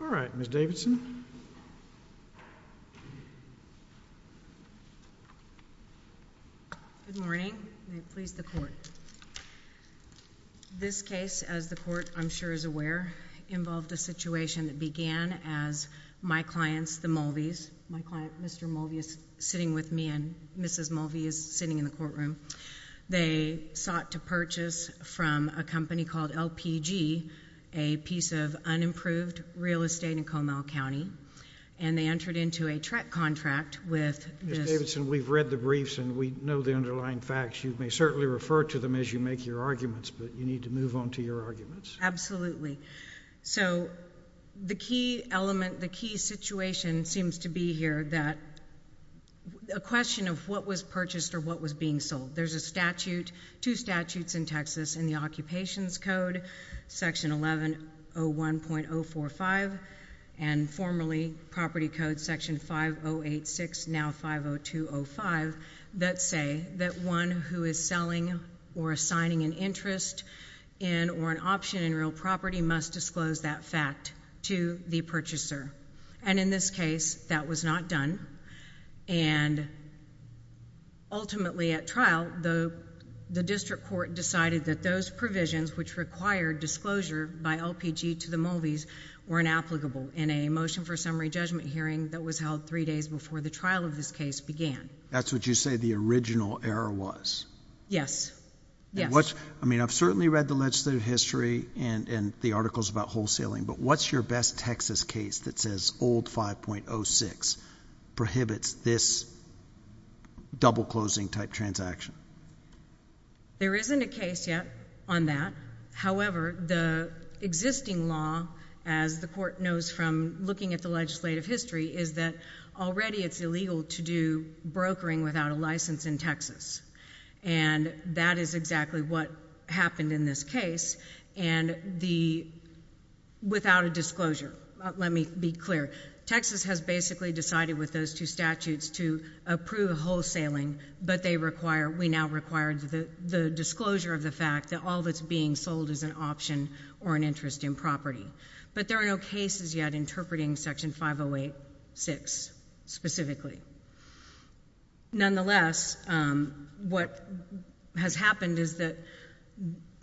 All right, Ms. Davidson. Good morning. May it please the Court. This case, as the Court, I'm sure is aware, involved a situation that began as my clients, the Mulveys, my client Mr. Mulvey is sitting with me and Mrs. Mulvey is sitting in the courtroom, they sought to purchase from a company called LPG, a piece of unimproved real estate in Comal County, and they entered into a trek contract with Ms. Davidson. We've read the briefs and we know the underlying facts. You may certainly refer to them as you make your arguments, but you need to move on to your arguments. Absolutely. So the key element, the key situation seems to be here that a question of what was purchased or what was being sold. There's a statute, two statutes in Texas in the Occupations Code, Section 1101.045, and formerly Property Code, Section 5086, now 50205, that say that one who is selling or assigning an interest in or an option in real property must disclose that fact to the purchaser, and in this case that was not done, and ultimately at trial, the district court decided that those provisions which required disclosure by LPG to the Mulveys were inapplicable. In a motion for summary judgment hearing that was held three days before the trial of this case began. That's what you say the original error was. Yes. Yes. I mean, I've certainly read the legislative history and the articles about wholesaling, but what's your best Texas case that says old 5.06 prohibits this double-closing type transaction? There isn't a case yet on that. However, the existing law, as the Court knows from looking at the legislative history, is that already it's illegal to do brokering without a license in Texas, and that is exactly what happened in this case, and the without a disclosure. Let me be clear. Texas has basically decided with those two statutes to approve wholesaling, but we now require the disclosure of the fact that all that's being sold is an option or an interest in property, but there are no cases yet interpreting Section 508.6 specifically. Nonetheless, what has happened is that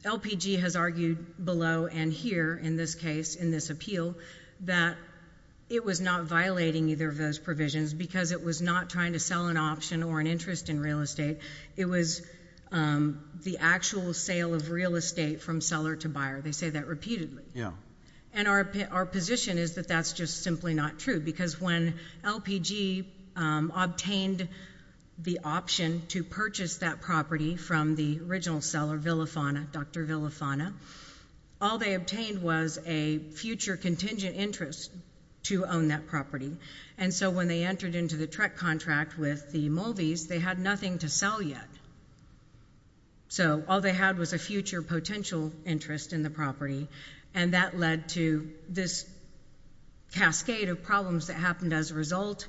LPG has argued below and here in this case, in this appeal, that it was not violating either of those provisions because it was not trying to sell an option or an interest in real estate. It was the actual sale of real estate from seller to buyer. They say that repeatedly. Yeah. And our position is that that's just simply not true because when LPG obtained the option to purchase that property from the original seller, Villafana, Dr. Villafana, all they obtained was a future contingent interest to own that property, and so when they entered into the TREC contract with the Mulvies, they had nothing to sell yet. So all they had was a future potential interest in the property, and that led to this cascade of problems that happened as a result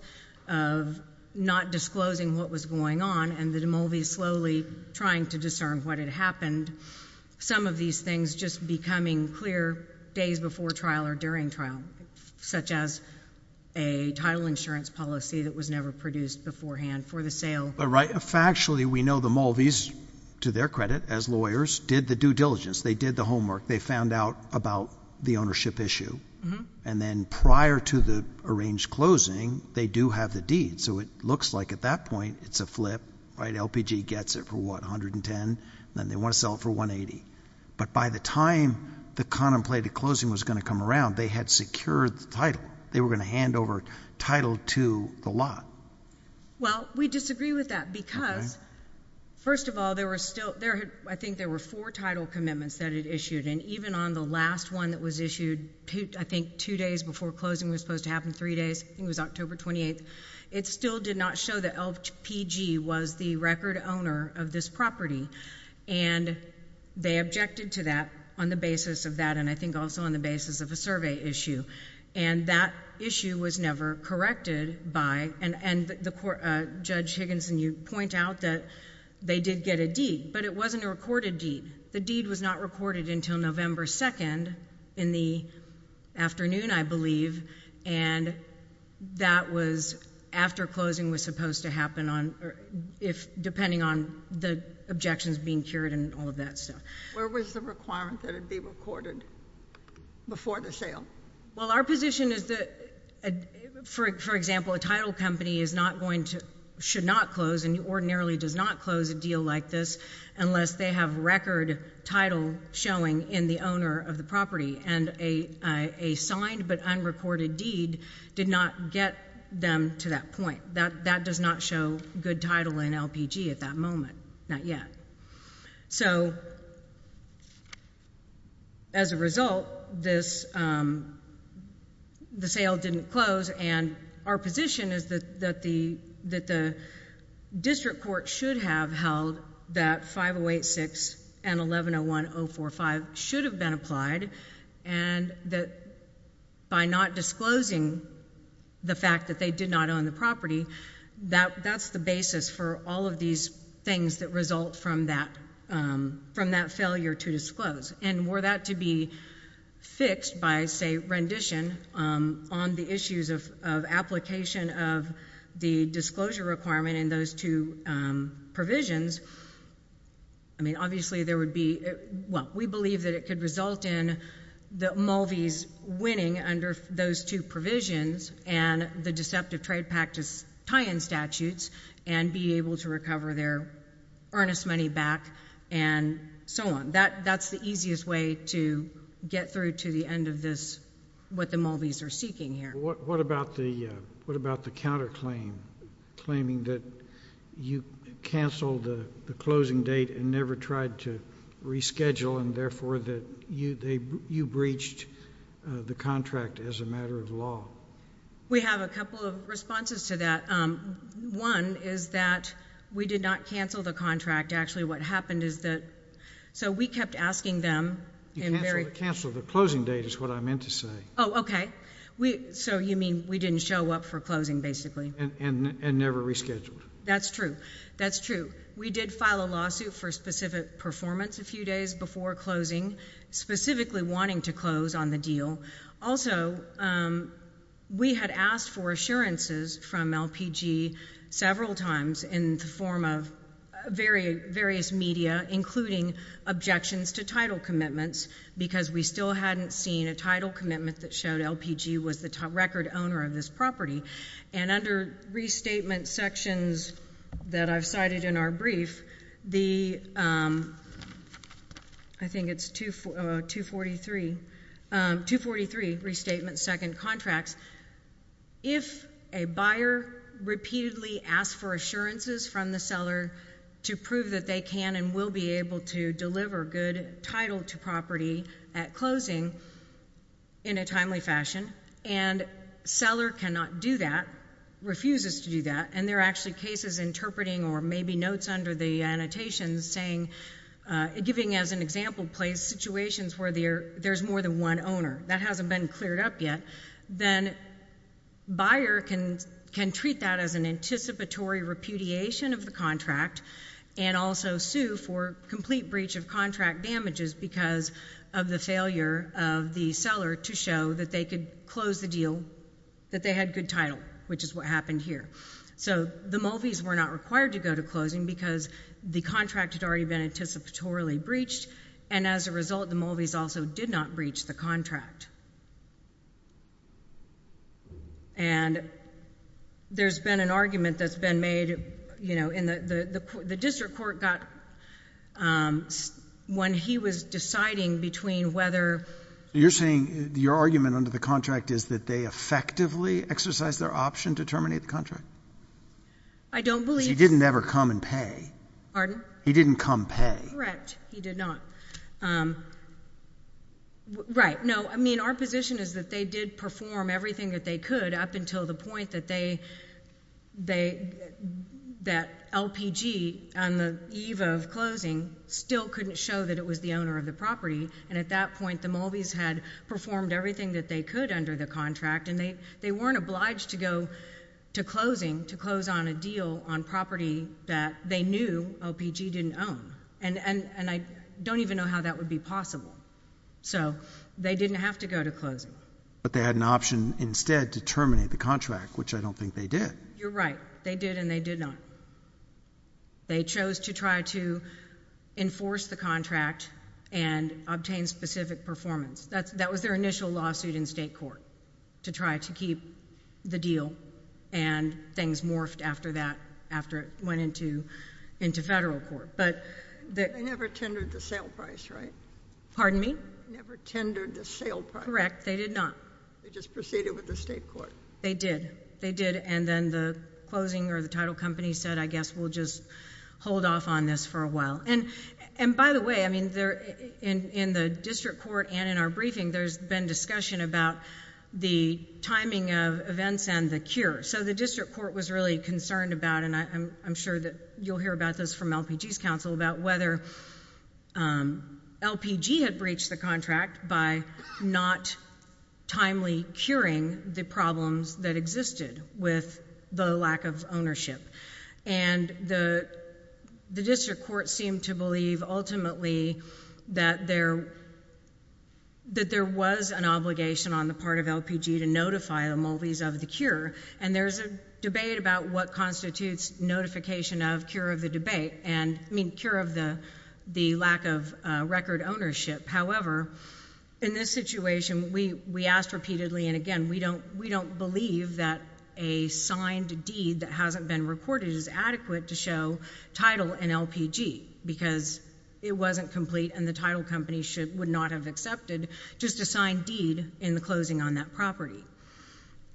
of not disclosing what was going on and the Mulvies slowly trying to discern what had happened, some of these things just becoming clear days before trial or during trial, such as a title insurance policy that was never produced beforehand for the sale. Right. Factually, we know the Mulvies, to their credit, as lawyers, did the due diligence. They did the homework. They found out about the ownership issue, and then prior to the arranged closing, they do have the deed. So it looks like at that point, it's a flip, right? LPG gets it for what, $110? Then they want to sell it for $180. But by the time the contemplated closing was going to come around, they had secured the title. They were going to hand over title to the lot. Well, we disagree with that because, first of all, there were still—I think there were four title commitments that it issued, and even on the last one that was issued, I think two days before closing was supposed to happen, three days, I think it was October 28th—it still did not show that LPG was the record owner of this property. And they objected to that on the basis of that, and I think also on the basis of a survey issue. And that issue was never corrected by—and Judge Higginson, you point out that they did get a deed, but it wasn't a recorded deed. The deed was not recorded until November 2nd in the afternoon, I believe, and that was after closing was supposed to happen, depending on the objections being cured and all of that stuff. Where was the requirement that it be recorded before the sale? Well, our position is that, for example, a title company is not going to—should not close and ordinarily does not close a deal like this unless they have record title showing in the owner of the property, and a signed but unrecorded deed did not get them to that point. That does not show good title in LPG at that moment, not yet. So as a result, this—the sale didn't close, and our position is that the district court should have held that 5086 and 1101.045 should have been applied, and that by not disclosing the fact that they did not own the property, that's the basis for all of these things that result from that failure to disclose. And were that to be fixed by, say, rendition on the issues of application of the disclosure requirement in those two provisions, I mean, obviously there would be—well, we believe that it could result in the Mulvies winning under those two provisions and the deceptive trade practice tie-in statutes and be able to recover their earnest money back and so on. That's the easiest way to get through to the end of this, what the Mulvies are seeking here. What about the counterclaim, claiming that you canceled the closing date and never tried to reschedule and therefore that you breached the contract as a matter of law? We have a couple of responses to that. One is that we did not cancel the contract. Actually, what happened is that—so we kept asking them— You canceled the closing date is what I meant to say. Oh, okay. So you mean we didn't show up for closing, basically. And never rescheduled. That's true. That's true. We did file a lawsuit for specific performance a few days before closing, specifically wanting to close on the deal. Also, we had asked for assurances from LPG several times in the form of various media, including objections to title commitments, because we still hadn't seen a title commitment that showed LPG was the record owner of this property. And under restatement sections that I've cited in our brief, I think it's 243, restatement second contracts, if a buyer repeatedly asks for assurances from the seller to prove that they can and will be able to deliver good title to property at closing in a timely fashion, and seller cannot do that, refuses to do that, and there are actually cases interpreting or maybe notes under the annotations saying—giving as an example place—situations where there's more than one owner. That hasn't been cleared up yet. Then buyer can treat that as an anticipatory repudiation of the contract and also sue for complete breach of contract damages because of the failure of the seller to show that they could close the deal, that they had good title, which is what happened here. So the Mulvies were not required to go to closing because the contract had already been anticipatorily breached, and as a result, the Mulvies also did not breach the contract. And there's been an argument that's been made, you know, in the—the district court got—when he was deciding between whether— You're saying your argument under the contract is that they effectively exercised their option to terminate the contract? I don't believe— Because he didn't ever come and pay. Pardon? He didn't come pay. Correct. He did not. Right. No, I mean, our position is that they did perform everything that they could up until the point that they—that LPG on the eve of closing still couldn't show that it was the owner of the property, and at that point, the Mulvies had performed everything that they could under the contract, and they weren't obliged to go to closing to close on a deal on property that they knew LPG didn't own. And I don't even know how that would be possible. So they didn't have to go to closing. But they had an option instead to terminate the contract, which I don't think they did. You're right. They did, and they did not. They chose to try to enforce the contract and obtain specific performance. That was their initial lawsuit in state court, to try to keep the deal, and things morphed after that, after it went into federal court. But they never tendered the sale price, right? Pardon me? Never tendered the sale price. Correct. They did not. They just proceeded with the state court. They did. They did, and then the closing or the title company said, I guess we'll just hold off on this for a while. And by the way, I mean, in the district court and in our briefing, there's been discussion about the timing of events and the cure. So the district court was really concerned about, and I'm sure that you'll hear about this from LPG's counsel, about whether LPG had breached the contract by not timely curing the problems that existed with the lack of ownership. And the district court seemed to believe, ultimately, that there was an obligation on the part of LPG to notify the Mulvies of the cure. And there's a debate about what constitutes notification of cure of the debate, and I mean, cure of the lack of record ownership. However, in this situation, we asked repeatedly, and again, we don't believe that a signed deed that hasn't been recorded is adequate to show title and LPG, because it wasn't complete and the title company would not have accepted just a signed deed in the closing on that property.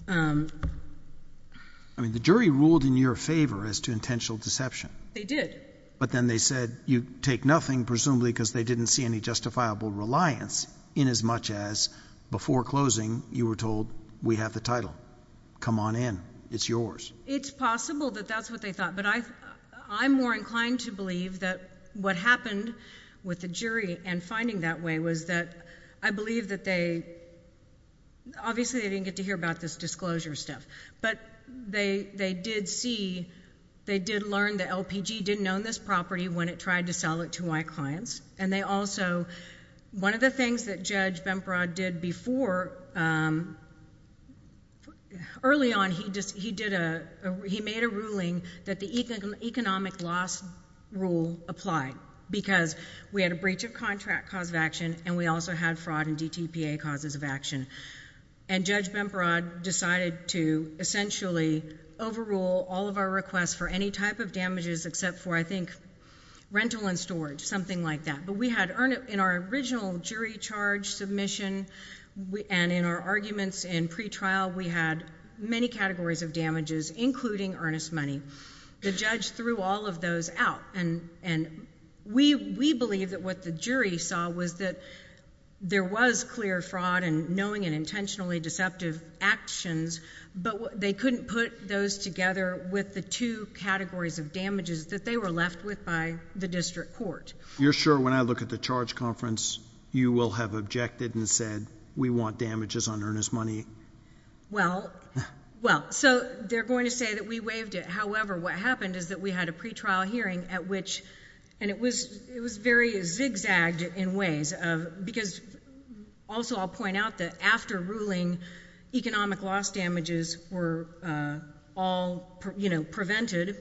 I mean, the jury ruled in your favor as to intentional deception. They did. But then they said you take nothing, presumably because they didn't see any reliance in as much as before closing, you were told, we have the title. Come on in. It's yours. It's possible that that's what they thought. But I'm more inclined to believe that what happened with the jury in finding that way was that I believe that they, obviously, they didn't get to hear about this disclosure stuff. But they did see, they did learn that LPG didn't own this property when it tried to sell it to my clients. And they also, one of the things that Judge Bemprod did before, early on, he made a ruling that the economic loss rule applied, because we had a breach of contract cause of action, and we also had fraud and DTPA causes of action. And Judge Bemprod decided to essentially overrule all of our requests for any type of damages except for, I think, rental and storage, something like that. But we had, in our original jury charge submission and in our arguments in pretrial, we had many categories of damages, including earnest money. The judge threw all of those out. And we believe that what the jury saw was that there was clear fraud and knowing and intentionally deceptive actions, but they couldn't put those together with the two categories of damages that they were left with by the district court. You're sure, when I look at the charge conference, you will have objected and said, we want damages on earnest money? Well, so they're going to say that we waived it. However, what happened is that we had a pretrial hearing at which, and it was very zigzagged in ways, because also I'll point out that after ruling, economic loss damages were all, you know, prevented.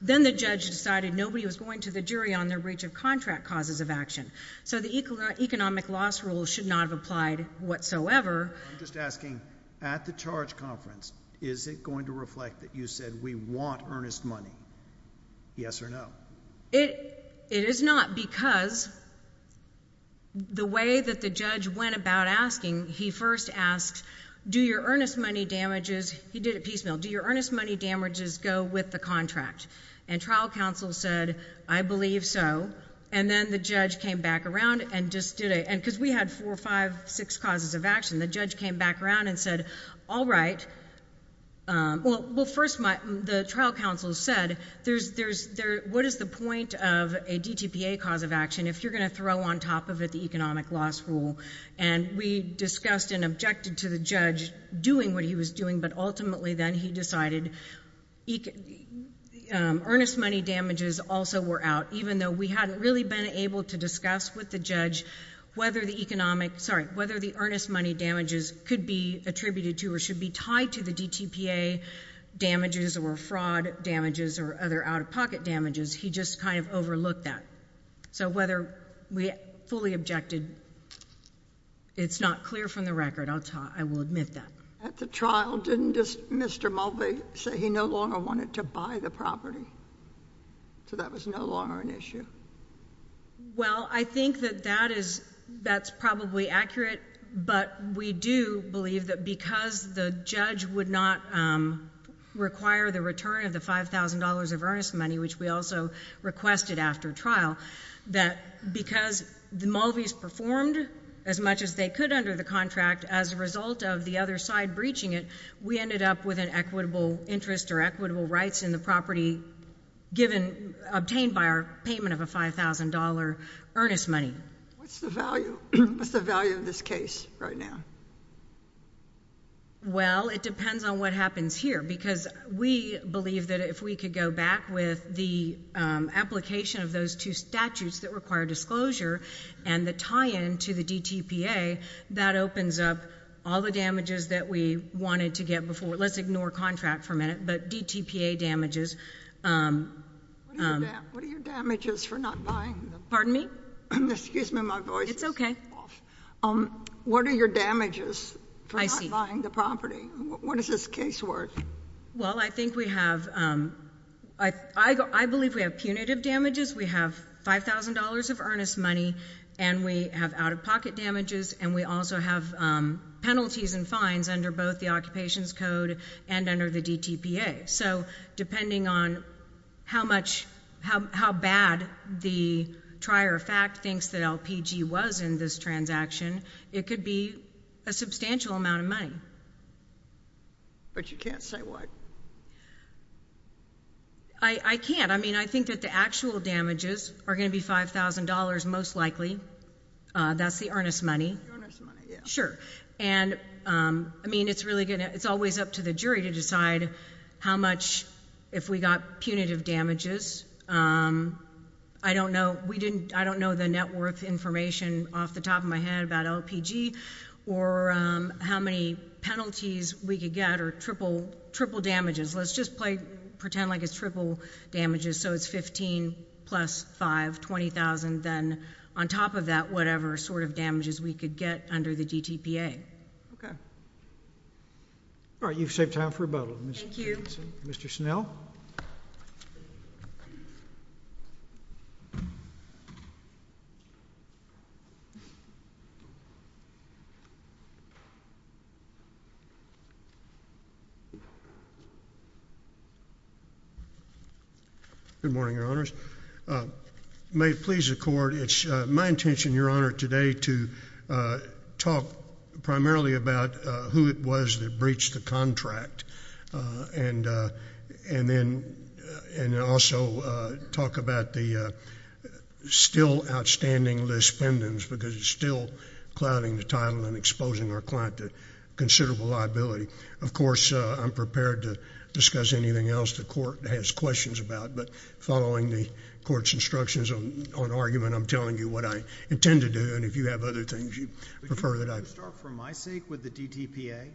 Then the judge decided nobody was going to the jury on their breach of contract causes of action. So the economic loss rule should not have applied whatsoever. I'm just asking, at the charge conference, is it going to reflect that you said we want earnest money? Yes or no? It is not because the way that the judge went about asking, he first asked, do your earnest money damages, he did it piecemeal, do your earnest money damages go with the contract? And trial counsel said, I believe so. And then the judge came back around and just did a, because we had four, five, six causes of action, the judge came back around and said, all right. Well, first, the trial counsel said, what is the point of a DTPA cause of action if you're going to throw on top of it the economic loss rule? And we discussed and objected to the judge doing what he was doing, but ultimately then he decided earnest money damages also were out, even though we hadn't really been able to discuss with the judge whether the earnest money damages could be attributed to or should be tied to the DTPA damages or fraud damages or other out-of-pocket damages, he just kind of overlooked that. So whether we fully objected, it's not clear from the record. I will admit that. At the trial, didn't Mr. Mulvey say he no longer wanted to buy the property? So that was no longer an issue? Well, I think that that is, that's probably accurate, but we do believe that because the judge would not require the return of the $5,000 of earnest money, which we also requested after trial, that because the Mulveys performed as much as they could under the contract, as a result of the other side breaching it, we ended up with an equitable interest or in the property obtained by our payment of a $5,000 earnest money. What's the value of this case right now? Well, it depends on what happens here, because we believe that if we could go back with the application of those two statutes that require disclosure and the tie-in to the DTPA, that opens up all the damages that we wanted to get before. Let's ignore contract for a minute, but DTPA damages. What are your damages for not buying the property? Pardon me? Excuse me, my voice is off. What are your damages for not buying the property? What is this case worth? Well, I think we have, I believe we have punitive damages. We have $5,000 of earnest money, and we have out-of-pocket damages, and we also have penalties and fines under the Occupations Code and under the DTPA. So depending on how bad the trier of fact thinks that LPG was in this transaction, it could be a substantial amount of money. But you can't say what? I can't. I mean, I think that the actual damages are going to be $5,000 most likely. That's the earnest money. The earnest money, yeah. Sure. And I mean, it's really going to, it's always up to the jury to decide how much, if we got punitive damages. I don't know, we didn't, I don't know the net worth information off the top of my head about LPG or how many penalties we could get or triple damages. Let's just play, pretend like it's triple damages. So it's $15,000 plus $5,000, $20,000, then on top of that, whatever sort of damages we could get under the DTPA. Okay. All right. You've saved time for rebuttal. Thank you. Mr. Snell. Good morning, Your Honors. May it please the Court, it's my intention, Your Honor, today to talk primarily about who it was that breached the contract and then also talk about the still outstanding list pendants because it's still clouding the title and exposing our client to considerable liability. Of course, I'm prepared to discuss anything else the Court has questions about, but following the Court's instructions on argument, I'm telling you what I intend to do. And if you have other things you prefer that I start from my sake with the DTPA,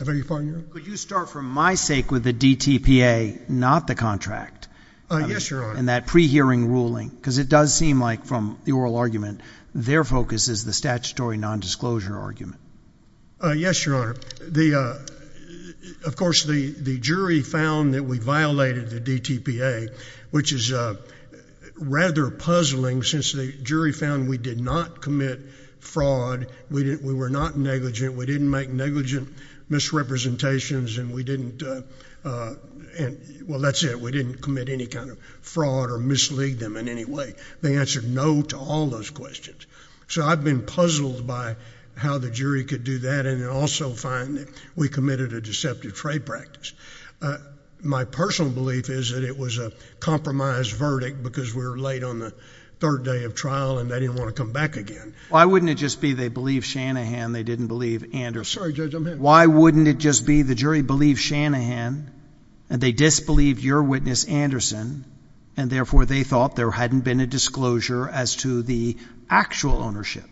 could you start from my sake with the DTPA, not the contract? Yes, Your Honor. And that pre-hearing ruling, because it does seem like from the oral argument, their focus is the statutory nondisclosure argument. Yes, Your Honor. Of course, the jury found that we violated the DTPA, which is rather puzzling since the jury found we did not commit fraud, we were not negligent, we didn't make negligent misrepresentations, and we didn't, well, that's it, we didn't commit any kind of fraud or mislead them in any way. They answered no to all those questions. So I've been puzzled by how the jury could do that and also find that we committed a deceptive trade practice. My personal belief is it was a compromised verdict because we were late on the third day of trial and they didn't want to come back again. Why wouldn't it just be they believed Shanahan, they didn't believe Anderson? Sorry, Judge, I'm here. Why wouldn't it just be the jury believed Shanahan and they disbelieved your witness, Anderson, and therefore they thought there hadn't been a disclosure as to the actual ownership.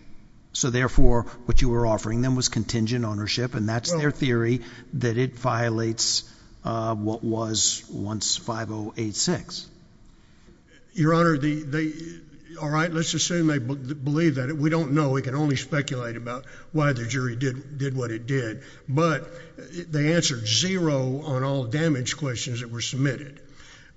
So therefore, what you were offering them was contingent ownership, and that's their theory that it violates what was once 5086. Your Honor, all right, let's assume they believe that. We don't know. We can only speculate about why the jury did what it did, but they answered zero on all damage questions that were submitted.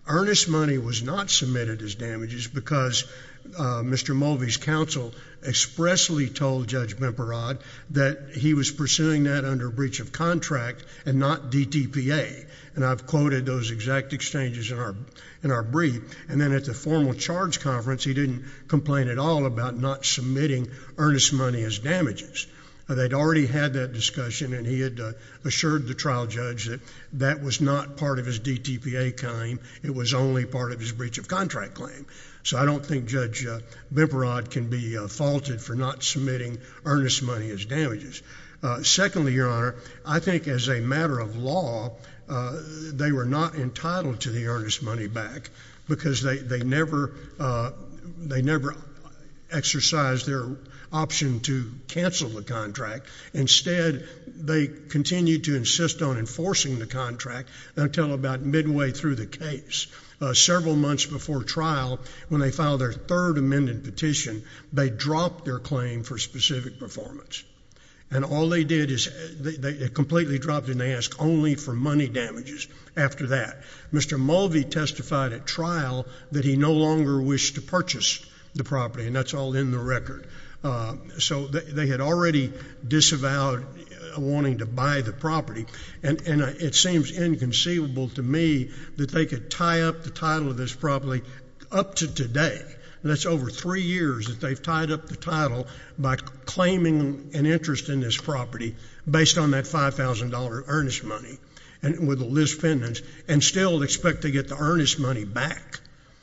Earnest Money was not submitted as damages because Mr. Mulvey's counsel expressly told Judge Bimparad that he was pursuing that under breach of contract and not DTPA, and I've quoted those exact exchanges in our brief. And then at the formal charge conference, he didn't complain at all about not submitting Earnest Money as damages. They'd already had that discussion and he had assured the trial judge that that was not part of his DTPA claim. It was only part of his breach of contract claim. So I don't think Judge Bimparad can be faulted for not submitting Earnest Money as damages. Secondly, Your Honor, I think as a matter of law, they were not entitled to the Earnest Money back because they never exercised their option to cancel the contract. Instead, they continued to insist on enforcing the contract until about midway through the case. Several months before trial, when they filed their third amended petition, they dropped their claim for specific performance. And all they did is they completely dropped and they asked only for money damages after that. Mr. Mulvey testified at trial that he no longer wished to purchase the property, and that's all in the record. So they had already disavowed wanting to buy the property. And it seems inconceivable to me that they could tie up the title of this property up to today. That's over three years that they've tied up the title by claiming an interest in this property based on that $5,000 Earnest Money with a list pendants and still expect to get the Earnest Money back.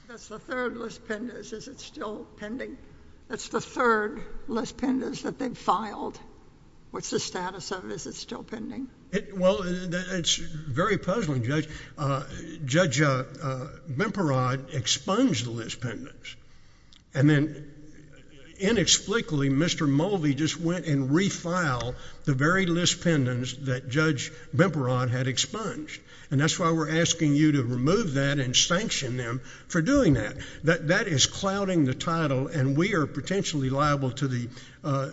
That's the third list pendants. Is it still pending? That's the third list pendants that they've filed. What's the status of it? Is it pending? Well, it's very puzzling, Judge. Judge Bimperod expunged the list pendants. And then inexplicably, Mr. Mulvey just went and refiled the very list pendants that Judge Bimperod had expunged. And that's why we're asking you to remove that and sanction them for doing that. That is clouding the title, and we are potentially liable to the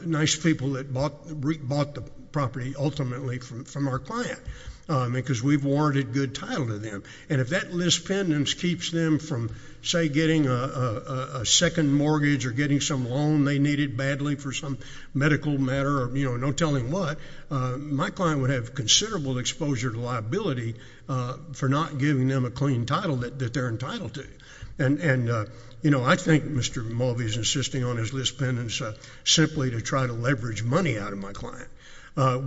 nice people that bought the property ultimately from our client, because we've warranted good title to them. And if that list pendants keeps them from, say, getting a second mortgage or getting some loan they needed badly for some medical matter or no telling what, my client would have considerable exposure to liability for not giving them a clean title that they're to try to leverage money out of my client.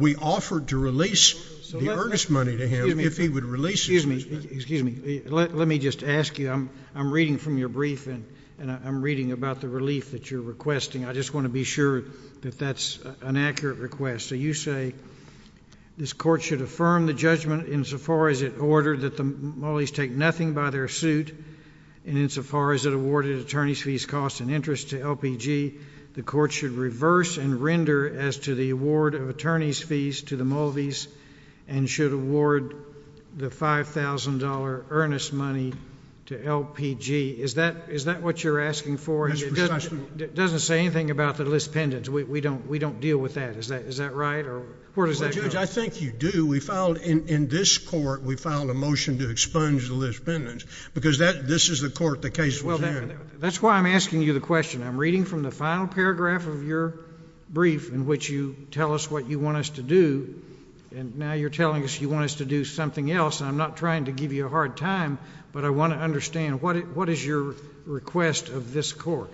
We offered to release the Earnest Money to him if he would release it. Excuse me. Excuse me. Let me just ask you. I'm reading from your brief, and I'm reading about the relief that you're requesting. I just want to be sure that that's an accurate request. So you say this court should affirm the judgment insofar as it ordered that the Mulleys take nothing by their suit, and insofar as it awarded attorneys fees, costs, and interest to LPG, the court should reverse and render as to the award of attorneys fees to the Mulleys and should award the $5,000 Earnest Money to LPG. Is that what you're asking for? That's precise. It doesn't say anything about the list pendants. We don't deal with that. Is that right? Well, Judge, I think you do. In this court, we filed a motion to expunge the list pendants because this is the court the case was in. That's why I'm asking you the question. I'm reading from the final paragraph of your brief in which you tell us what you want us to do, and now you're telling us you want us to do something else. I'm not trying to give you a hard time, but I want to understand what is your request of this court?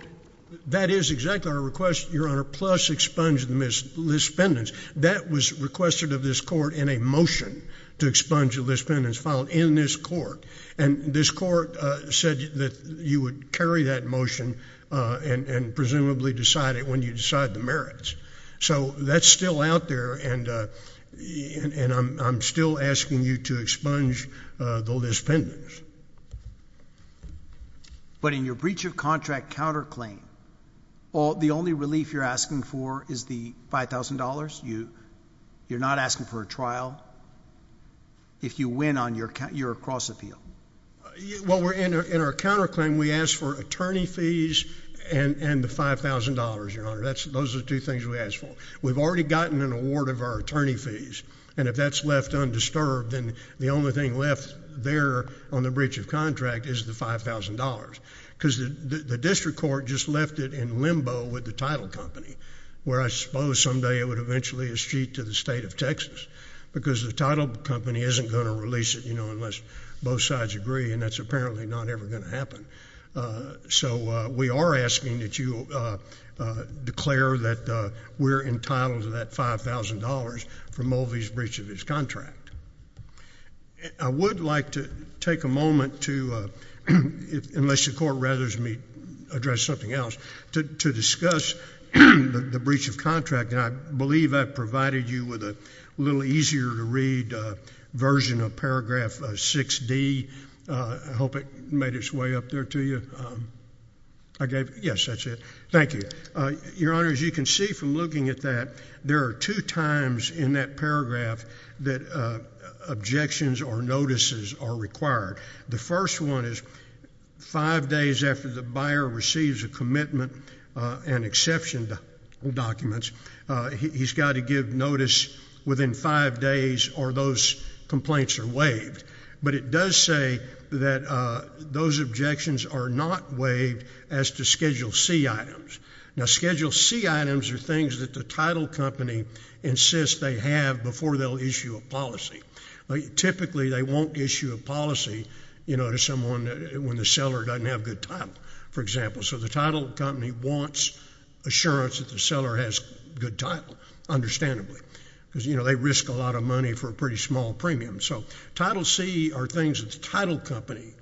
That is exactly our request, Your Honor, plus expunge the list pendants. That was requested of this court in a motion to expunge the list pendants filed in this court, and this court said that you would carry that motion and presumably decide it when you decide the merits. That's still out there, and I'm still asking you to expunge the list pendants. But in your breach of contract counterclaim, the only relief you're asking for is the $5,000? You're not asking for a trial? If you win on your cross appeal? Well, in our counterclaim, we ask for attorney fees and the $5,000, Your Honor. Those are the two things we ask for. We've already gotten an award of our attorney fees, and if that's left undisturbed, then the only thing left there on the breach of contract is the $5,000 because the district court just left it in limbo with the title company, where I suppose someday it would eventually eschew to the state of Texas because the title company isn't going to release it, you know, unless both sides agree, and that's apparently not ever going to happen. So we are asking that you declare that we're entitled to that $5,000 for Mulvey's breach of his contract. I would like to take a moment to, unless the court rathers me address something else, to discuss the breach of contract, and I believe I provided you with a little easier-to-read version of paragraph 6D. I hope it made its way up there to you. Yes, that's it. Thank you. Your Honor, as you can see from looking at that, there are two times in that paragraph that objections or notices are required. The first one is five days after the buyer receives a commitment and exception documents, he's got to give notice within five days or those complaints are waived. But it does say that those objections are not waived as to Schedule C items. Now, Schedule C items are things that the title company insists they have before they'll issue a policy. Typically, they won't issue a policy, you know, to someone when the seller doesn't have a good title, for example. So the title company wants assurance that the seller has a good title, understandably, because, you know, they risk a lot of money for a pretty small premium. So Title C are things that the title company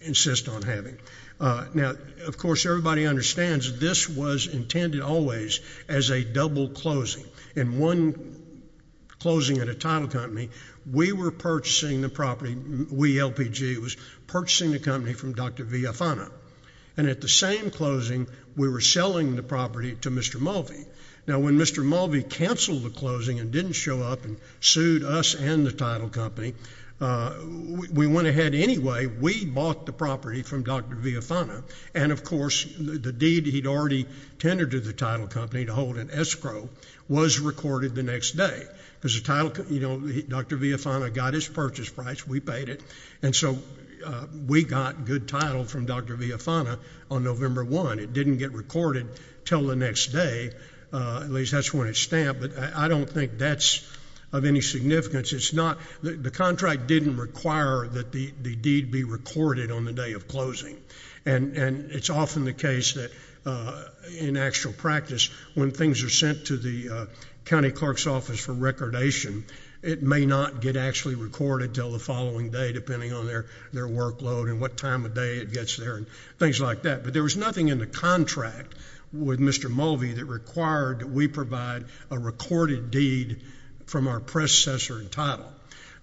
insists on having. Now, of course, everybody understands this was intended always as a double closing. In one closing at a title company, we were purchasing the property. We, LPG, was purchasing the company from Dr. Villafana. And at the same closing, we were selling the property to Mr. Mulvey. Now, when Mr. Mulvey canceled the closing and didn't show up and sued us and the title company, we went ahead anyway. We bought the property from Dr. Villafana. And, of course, the deed he'd already tendered to the title company to hold an escrow was recorded the next day because the title, you know, Dr. Villafana got his purchase price. We paid it. And so we got good title from Dr. Villafana on November 1. It didn't get recorded till the next day. At least that's when it's stamped. But I don't think that's of any significance. It's not the contract didn't require that the deed be recorded on the day of closing. And it's often the case that in actual practice, when things are sent to the county clerk's office for recordation, it may not get actually recorded till the following day, depending on their workload and what time of day it gets there and things like that. But there was nothing in the contract with Mr. Mulvey that required that we provide a recorded deed from our predecessor in title.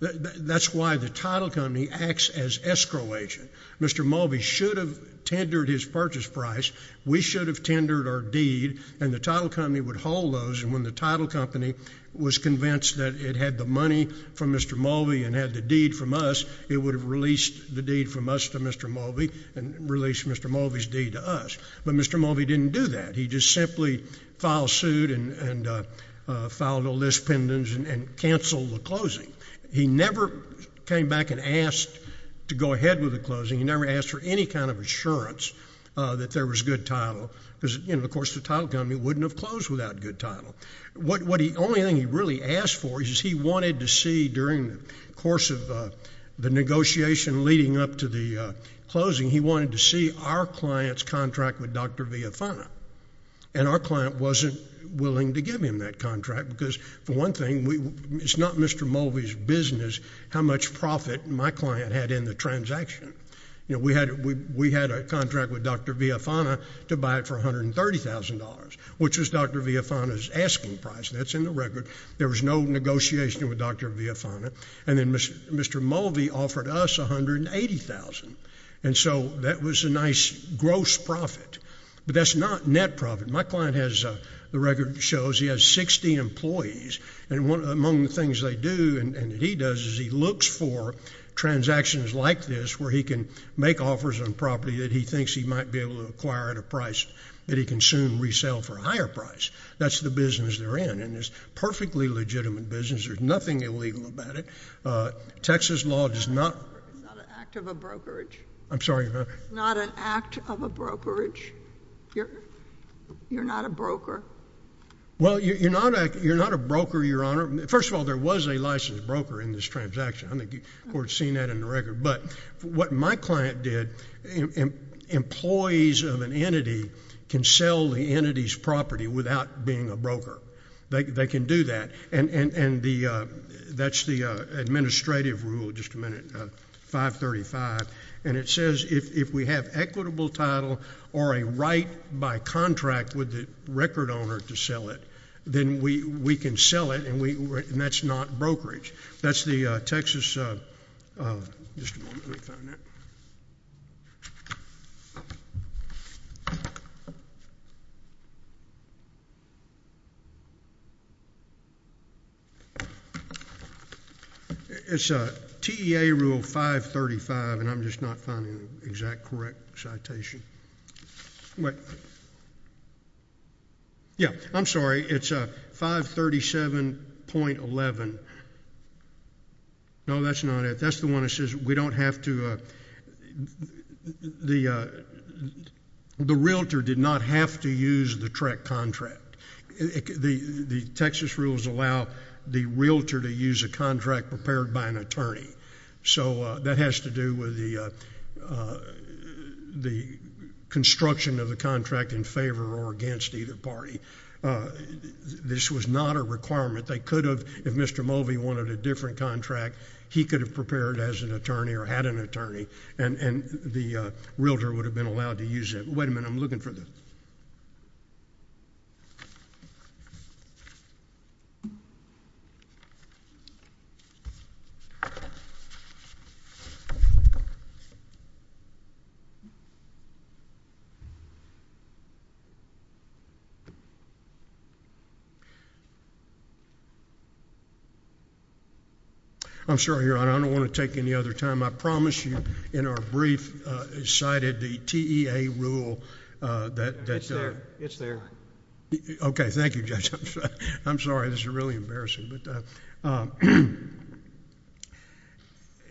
That's why the title company acts as escrow agent. Mr. Mulvey should have tendered his purchase price. We should have tendered our deed. And the title company would hold those. And when the title company was convinced that it had the money from Mr. Mulvey and had the deed from us, it would have released the deed from us to Mr. Mulvey and released Mr. Mulvey's deed to us. But Mr. Mulvey didn't do that. He just simply filed suit and filed a list and canceled the closing. He never came back and asked to go ahead with the closing. He never asked for any kind of assurance that there was good title. Because, you know, of course, the title company wouldn't have closed without good title. The only thing he really asked for is he wanted to see during the course of the negotiation leading up to the closing, he wanted to see our client's contract with Dr. Villafana. And our client wasn't willing to give him that contract because, for one thing, it's not Mr. Mulvey's business how much profit my client had in the transaction. You know, we had a contract with Dr. Villafana to buy it for $130,000, which was Dr. Villafana's asking price. That's in the record. There was no negotiation with Dr. Villafana. And then Mr. Mulvey offered us $180,000. And so that was a nice gross profit. But that's not net profit. My client has, the record shows, he has 60 employees. And one among the things they do and he does is he looks for transactions like this where he can make offers on property that he thinks he might be able to acquire at a price that he can soon resell for a higher price. That's the business they're in. And it's a perfectly legitimate business. There's nothing illegal about it. Texas law does not... It's not an act of a brokerage. I'm sorry? Not an act of a brokerage. You're not a broker? Well, you're not a broker, Your Honor. First of all, there was a licensed broker in this transaction. I think the court's seen that in the record. But what my client did, employees of an entity can sell the entity's property without being a broker. They can do that. And that's the administrative rule, just a minute, 535. And it says if we have equitable title or a right by contract with the record owner to sell it, then we can sell it and that's not brokerage. That's the Texas... Just a moment, let me find 535 and I'm just not finding the exact correct citation. Yeah, I'm sorry. It's 537.11. No, that's not it. That's the one that says we don't have to... The realtor did not have to use the correct contract. The Texas rules allow the realtor to use a contract prepared by an attorney. So that has to do with the construction of the contract in favor or against either party. This was not a requirement. They could have, if Mr. Mulvey wanted a different contract, he could have prepared as an attorney or had an attorney and the realtor would have been allowed to use it. Wait a minute, I'm looking for the... I'm sorry, Your Honor, I don't want to take any other time. I promised you in our brief cited the TEA rule that... It's there, it's there. Okay, thank you, I'm sorry. This is really embarrassing.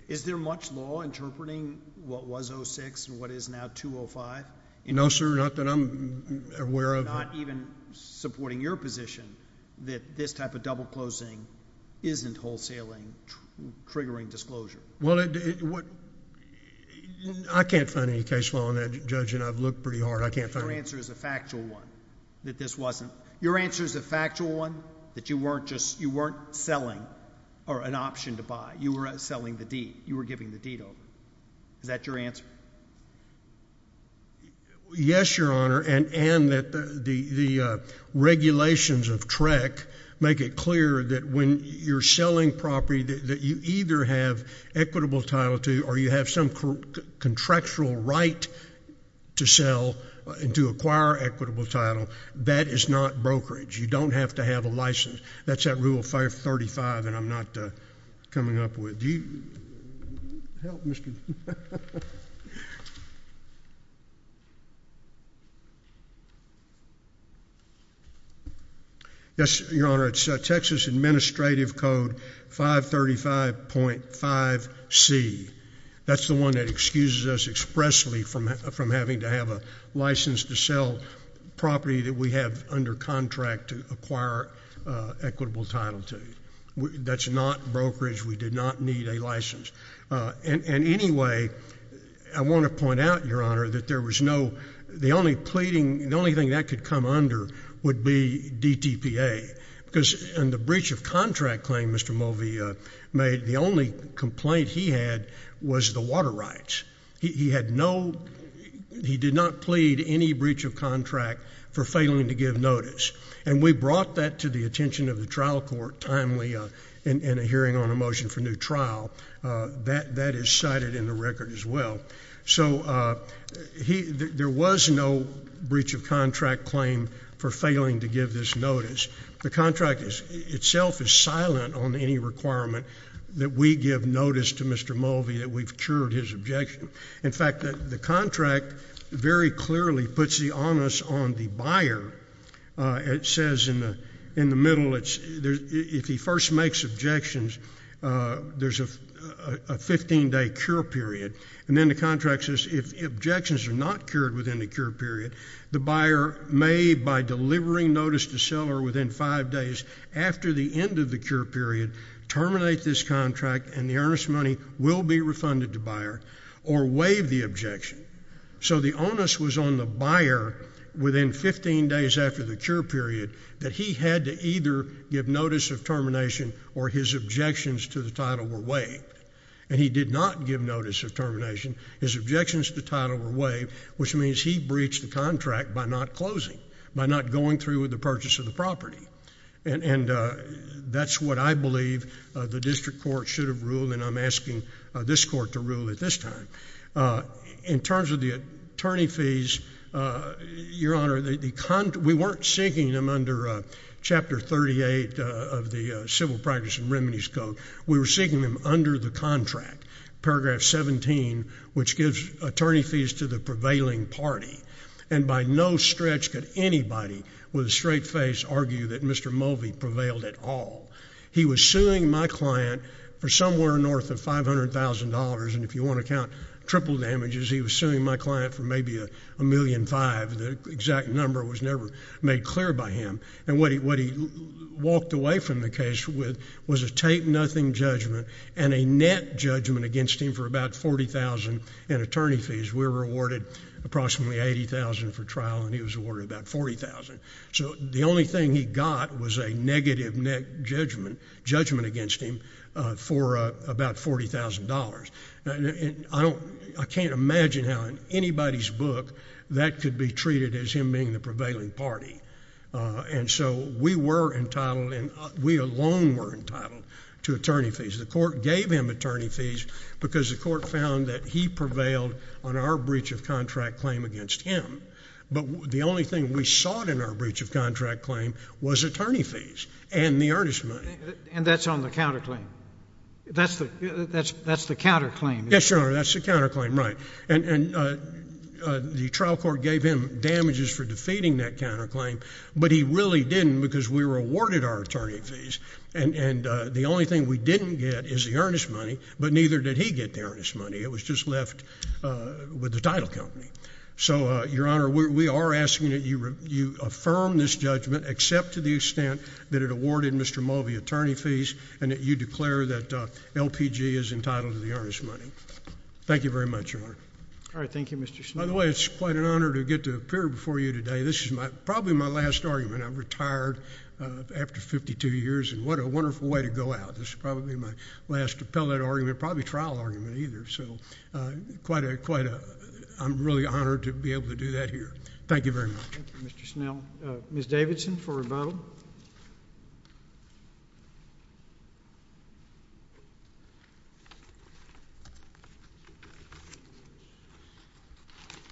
Is there much law interpreting what was 06 and what is now 205? No, sir, not that I'm aware of. Not even supporting your position that this type of double closing isn't wholesaling, triggering disclosure. Well, I can't find any case law on that, Judge, and I've looked pretty hard. I can't find... Your answer is a factual one that this wasn't... Your answer is a factual one that you weren't just... You weren't selling an option to buy. You were selling the deed. You were giving the deed over. Is that your answer? Yes, Your Honor, and that the regulations of TREC make it clear that when you're selling property that you either have equitable title to or you have some contractual right to sell and to acquire equitable title. That is not brokerage. You don't have to have a license. That's that Rule 535 that I'm not coming up with. Do you... Help, Mr.... Yes, Your Honor, it's Texas Administrative Code 535.5C. That's the one that excuses us expressly from having to have a license to sell property that we have under contract to acquire equitable title to. That's not brokerage. We did not need a license. And anyway, I want to point out, Your Honor, that there was no... The only pleading... The only thing that could come under would be DTPA because in the breach of contract claim Mr. Mulvey made, the only complaint he had was the water rights. He had no... He did not plead any breach of contract for failing to give notice. And we brought that to the attention of the trial court timely in a hearing on a motion for new trial. That is cited in the record as well. So he... There was no breach of contract claim for failing to give this notice. The contract itself is silent on any requirement that we give notice to Mr. Mulvey that we've cured his objection. In fact, the contract very clearly puts the onus on the buyer. It says in the middle, if he first makes objections, there's a 15-day cure period. And then the contract says if objections are not cured within the cure period, the buyer may, by delivering notice to seller within five days after the end of the cure period, terminate this contract and the earnest money will be refunded to buyer or waive the objection. So the onus was on the buyer within 15 days after the cure period that he had to either give notice of termination or his objections to the title were waived. And he did not give notice of termination. His objections to the title were waived, which means he breached the contract by not closing, by not going through with the purchase of the property. And that's what I believe the district court should have ruled and I'm asking this court to rule at this time. In terms of the attorney fees, Your Honor, we weren't seeking them under Chapter 38 of the Civil Practice and Remedies Code. We were seeking them under the contract, Paragraph 17, which gives attorney fees to the prevailing party. And by no stretch could anybody with a straight face argue that Mr. Mulvey prevailed at all. He was suing my client for somewhere north of $500,000, and if you want to count triple damages, he was suing my client for maybe $1.5 million. The exact number was never made clear by him. And what he walked away from the case with was a tape-nothing judgment and a net judgment against him for about $40,000 in attorney fees. We were awarded approximately $80,000 for trial and he was awarded about $40,000. So the only thing he got was a negative net judgment against him for about $40,000. I can't imagine how in anybody's book that could be treated as him being the prevailing party. And so we were entitled and we alone were entitled to attorney fees. The court gave him attorney fees because the court found that he prevailed on our breach of contract claim against him. But the only thing we sought in our breach of contract claim was attorney fees and the earnest money. And that's on the counterclaim? That's the counterclaim? Yes, Your Honor, that's the counterclaim, right. And the trial court gave him damages for defeating that counterclaim, but he really didn't because we were awarded our attorney fees. And the only thing we didn't get is the earnest money, but neither did he get the earnest money. It was just with the title company. So, Your Honor, we are asking that you affirm this judgment except to the extent that it awarded Mr. Mulvey attorney fees and that you declare that LPG is entitled to the earnest money. Thank you very much, Your Honor. All right, thank you, Mr. Snow. By the way, it's quite an honor to get to appear before you today. This is probably my last argument. I'm retired after 52 years and what a wonderful way to go out. This is probably my last appellate argument, probably trial argument either. So, I'm really honored to be able to do that here. Thank you very much. Thank you, Mr. Snow. Ms. Davidson for a vote.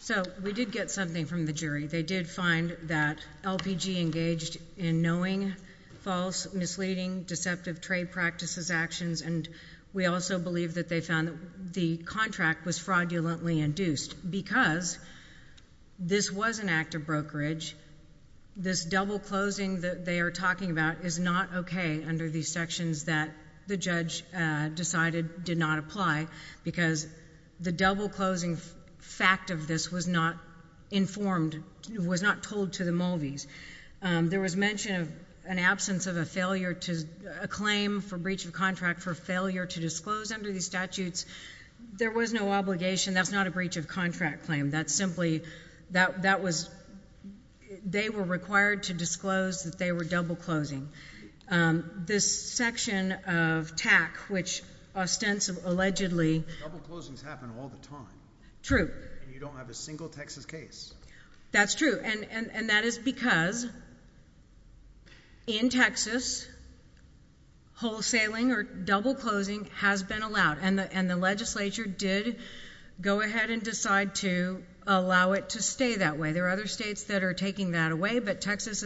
So, we did get something from the jury. They did find that LPG engaged in knowing false, misleading, deceptive trade practices actions, and we also believe that they found that the contract was fraudulently induced. Because this was an act of brokerage, this double closing that they are talking about is not okay under these sections that the judge decided did not apply, because the double closing fact of this was not informed, was not told to the Mulveys. There was mention of an absence of a failure to—a claim for breach of contract for failure to disclose under these statutes. There was no obligation. That's not a breach of contract claim. That's simply—that was—they were required to disclose that they were double closing. This section of TAC, which ostensibly— Double closings happen all the time. True. And you don't have a single Texas case. That's true, and that is because in Texas, wholesaling or double closing has been allowed, and the legislature did go ahead and decide to allow it to stay that way. There are other states that are taking that away, but Texas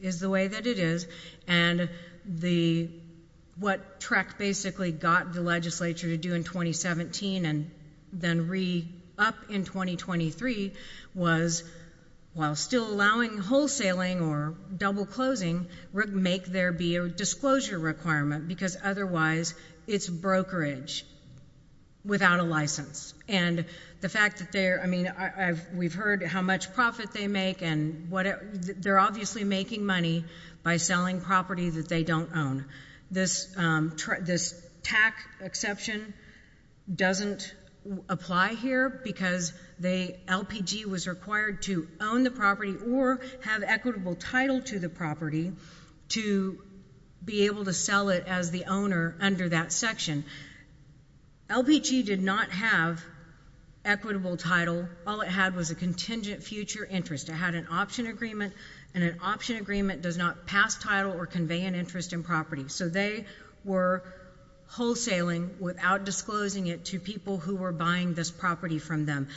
is the way that it is, and the—what TREC basically got the legislature to do in 2017 and then re-up in 2023 was, while still allowing wholesaling or double closing, make there be a disclosure requirement, because otherwise it's brokerage without a license, and the fact that they're—I mean, we've heard how much profit they make, and what—they're obviously making money by selling property that they don't own. This TAC exception doesn't apply here because they—LPG was required to own the property or have equitable title to the property to be able to sell it as the owner under that section. LPG did not have equitable title. All it had was a contingent future interest. It had an option agreement, and an option agreement does not pass title or convey an interest in property, so they were wholesaling without disclosing it to people who were buying this property from them,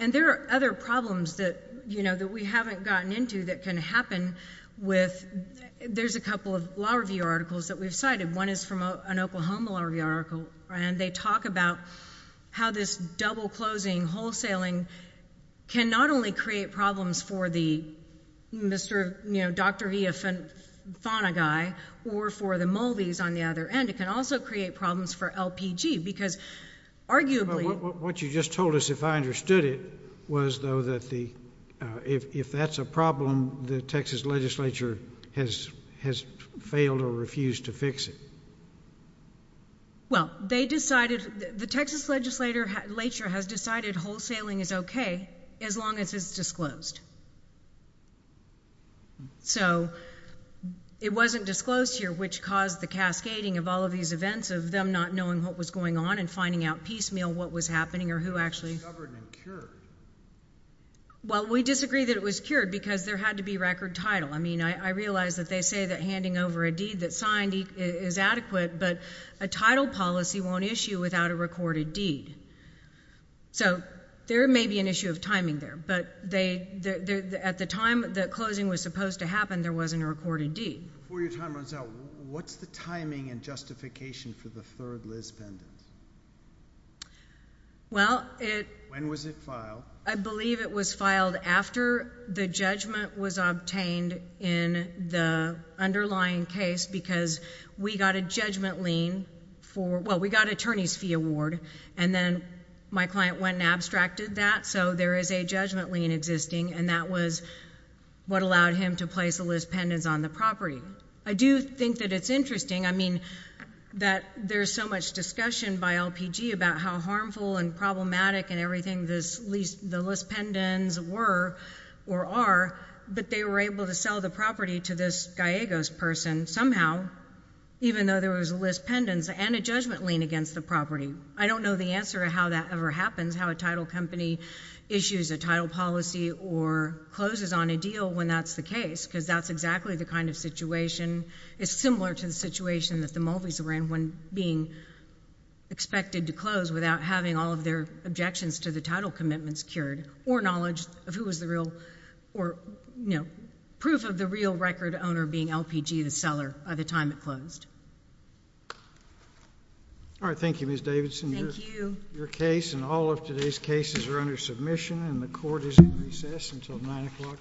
and there are other problems that, you know, that we haven't gotten into that can happen with—there's a couple of law review articles that we've cited. One is from an Oklahoma law review article, and they talk about how this double closing wholesaling can not only create problems for the Mr.—you know, Dr. E. Fonaguy or for the Muldeys on the other end. It can also create problems for LPG because arguably— But what you just told us, if I understood it, was, though, that the—if that's a problem, the Texas legislature has failed or refused to fix it. Well, they decided—the Texas legislature has decided wholesaling is okay as long as it's disclosed. So, it wasn't disclosed here, which caused the cascading of all of these events of them not knowing what was going on and finding out piecemeal what was happening or who actually— It was covered and cured. Well, we disagree that it was cured because there had to be record title. I mean, I realize that they say that handing over a deed that's signed is adequate, but a title policy won't issue without a recorded deed. So, there may be an issue of timing there, but they—at the time that closing was supposed to happen, there wasn't a recorded deed. Before your time runs out, what's the timing and justification for the third Liz Bendit? Well, it— When was it filed? I believe it was filed after the judgment was obtained in the underlying case because we got a judgment lien for—well, we got an attorney's fee award, and then my client went and abstracted that. So, there is a judgment lien existing, and that was what allowed him to place the Liz Bendits on the property. I do think that it's interesting, I mean, that there's so much by LPG about how harmful and problematic and everything the Liz Bendits were or are, but they were able to sell the property to this Gallegos person somehow, even though there was a Liz Bendits and a judgment lien against the property. I don't know the answer to how that ever happens, how a title company issues a title policy or closes on a deal when that's the case, because that's exactly the kind of situation—it's similar to the situation that the Mulvies were in when being expected to close without having all of their objections to the title commitments cured or knowledge of who was the real—or, you know, proof of the real record owner being LPG, the seller, by the time it closed. All right. Thank you, Ms. Davidson. Thank you. Your case and all of today's cases are under submission, and the Court is in recess until 9 o'clock tomorrow.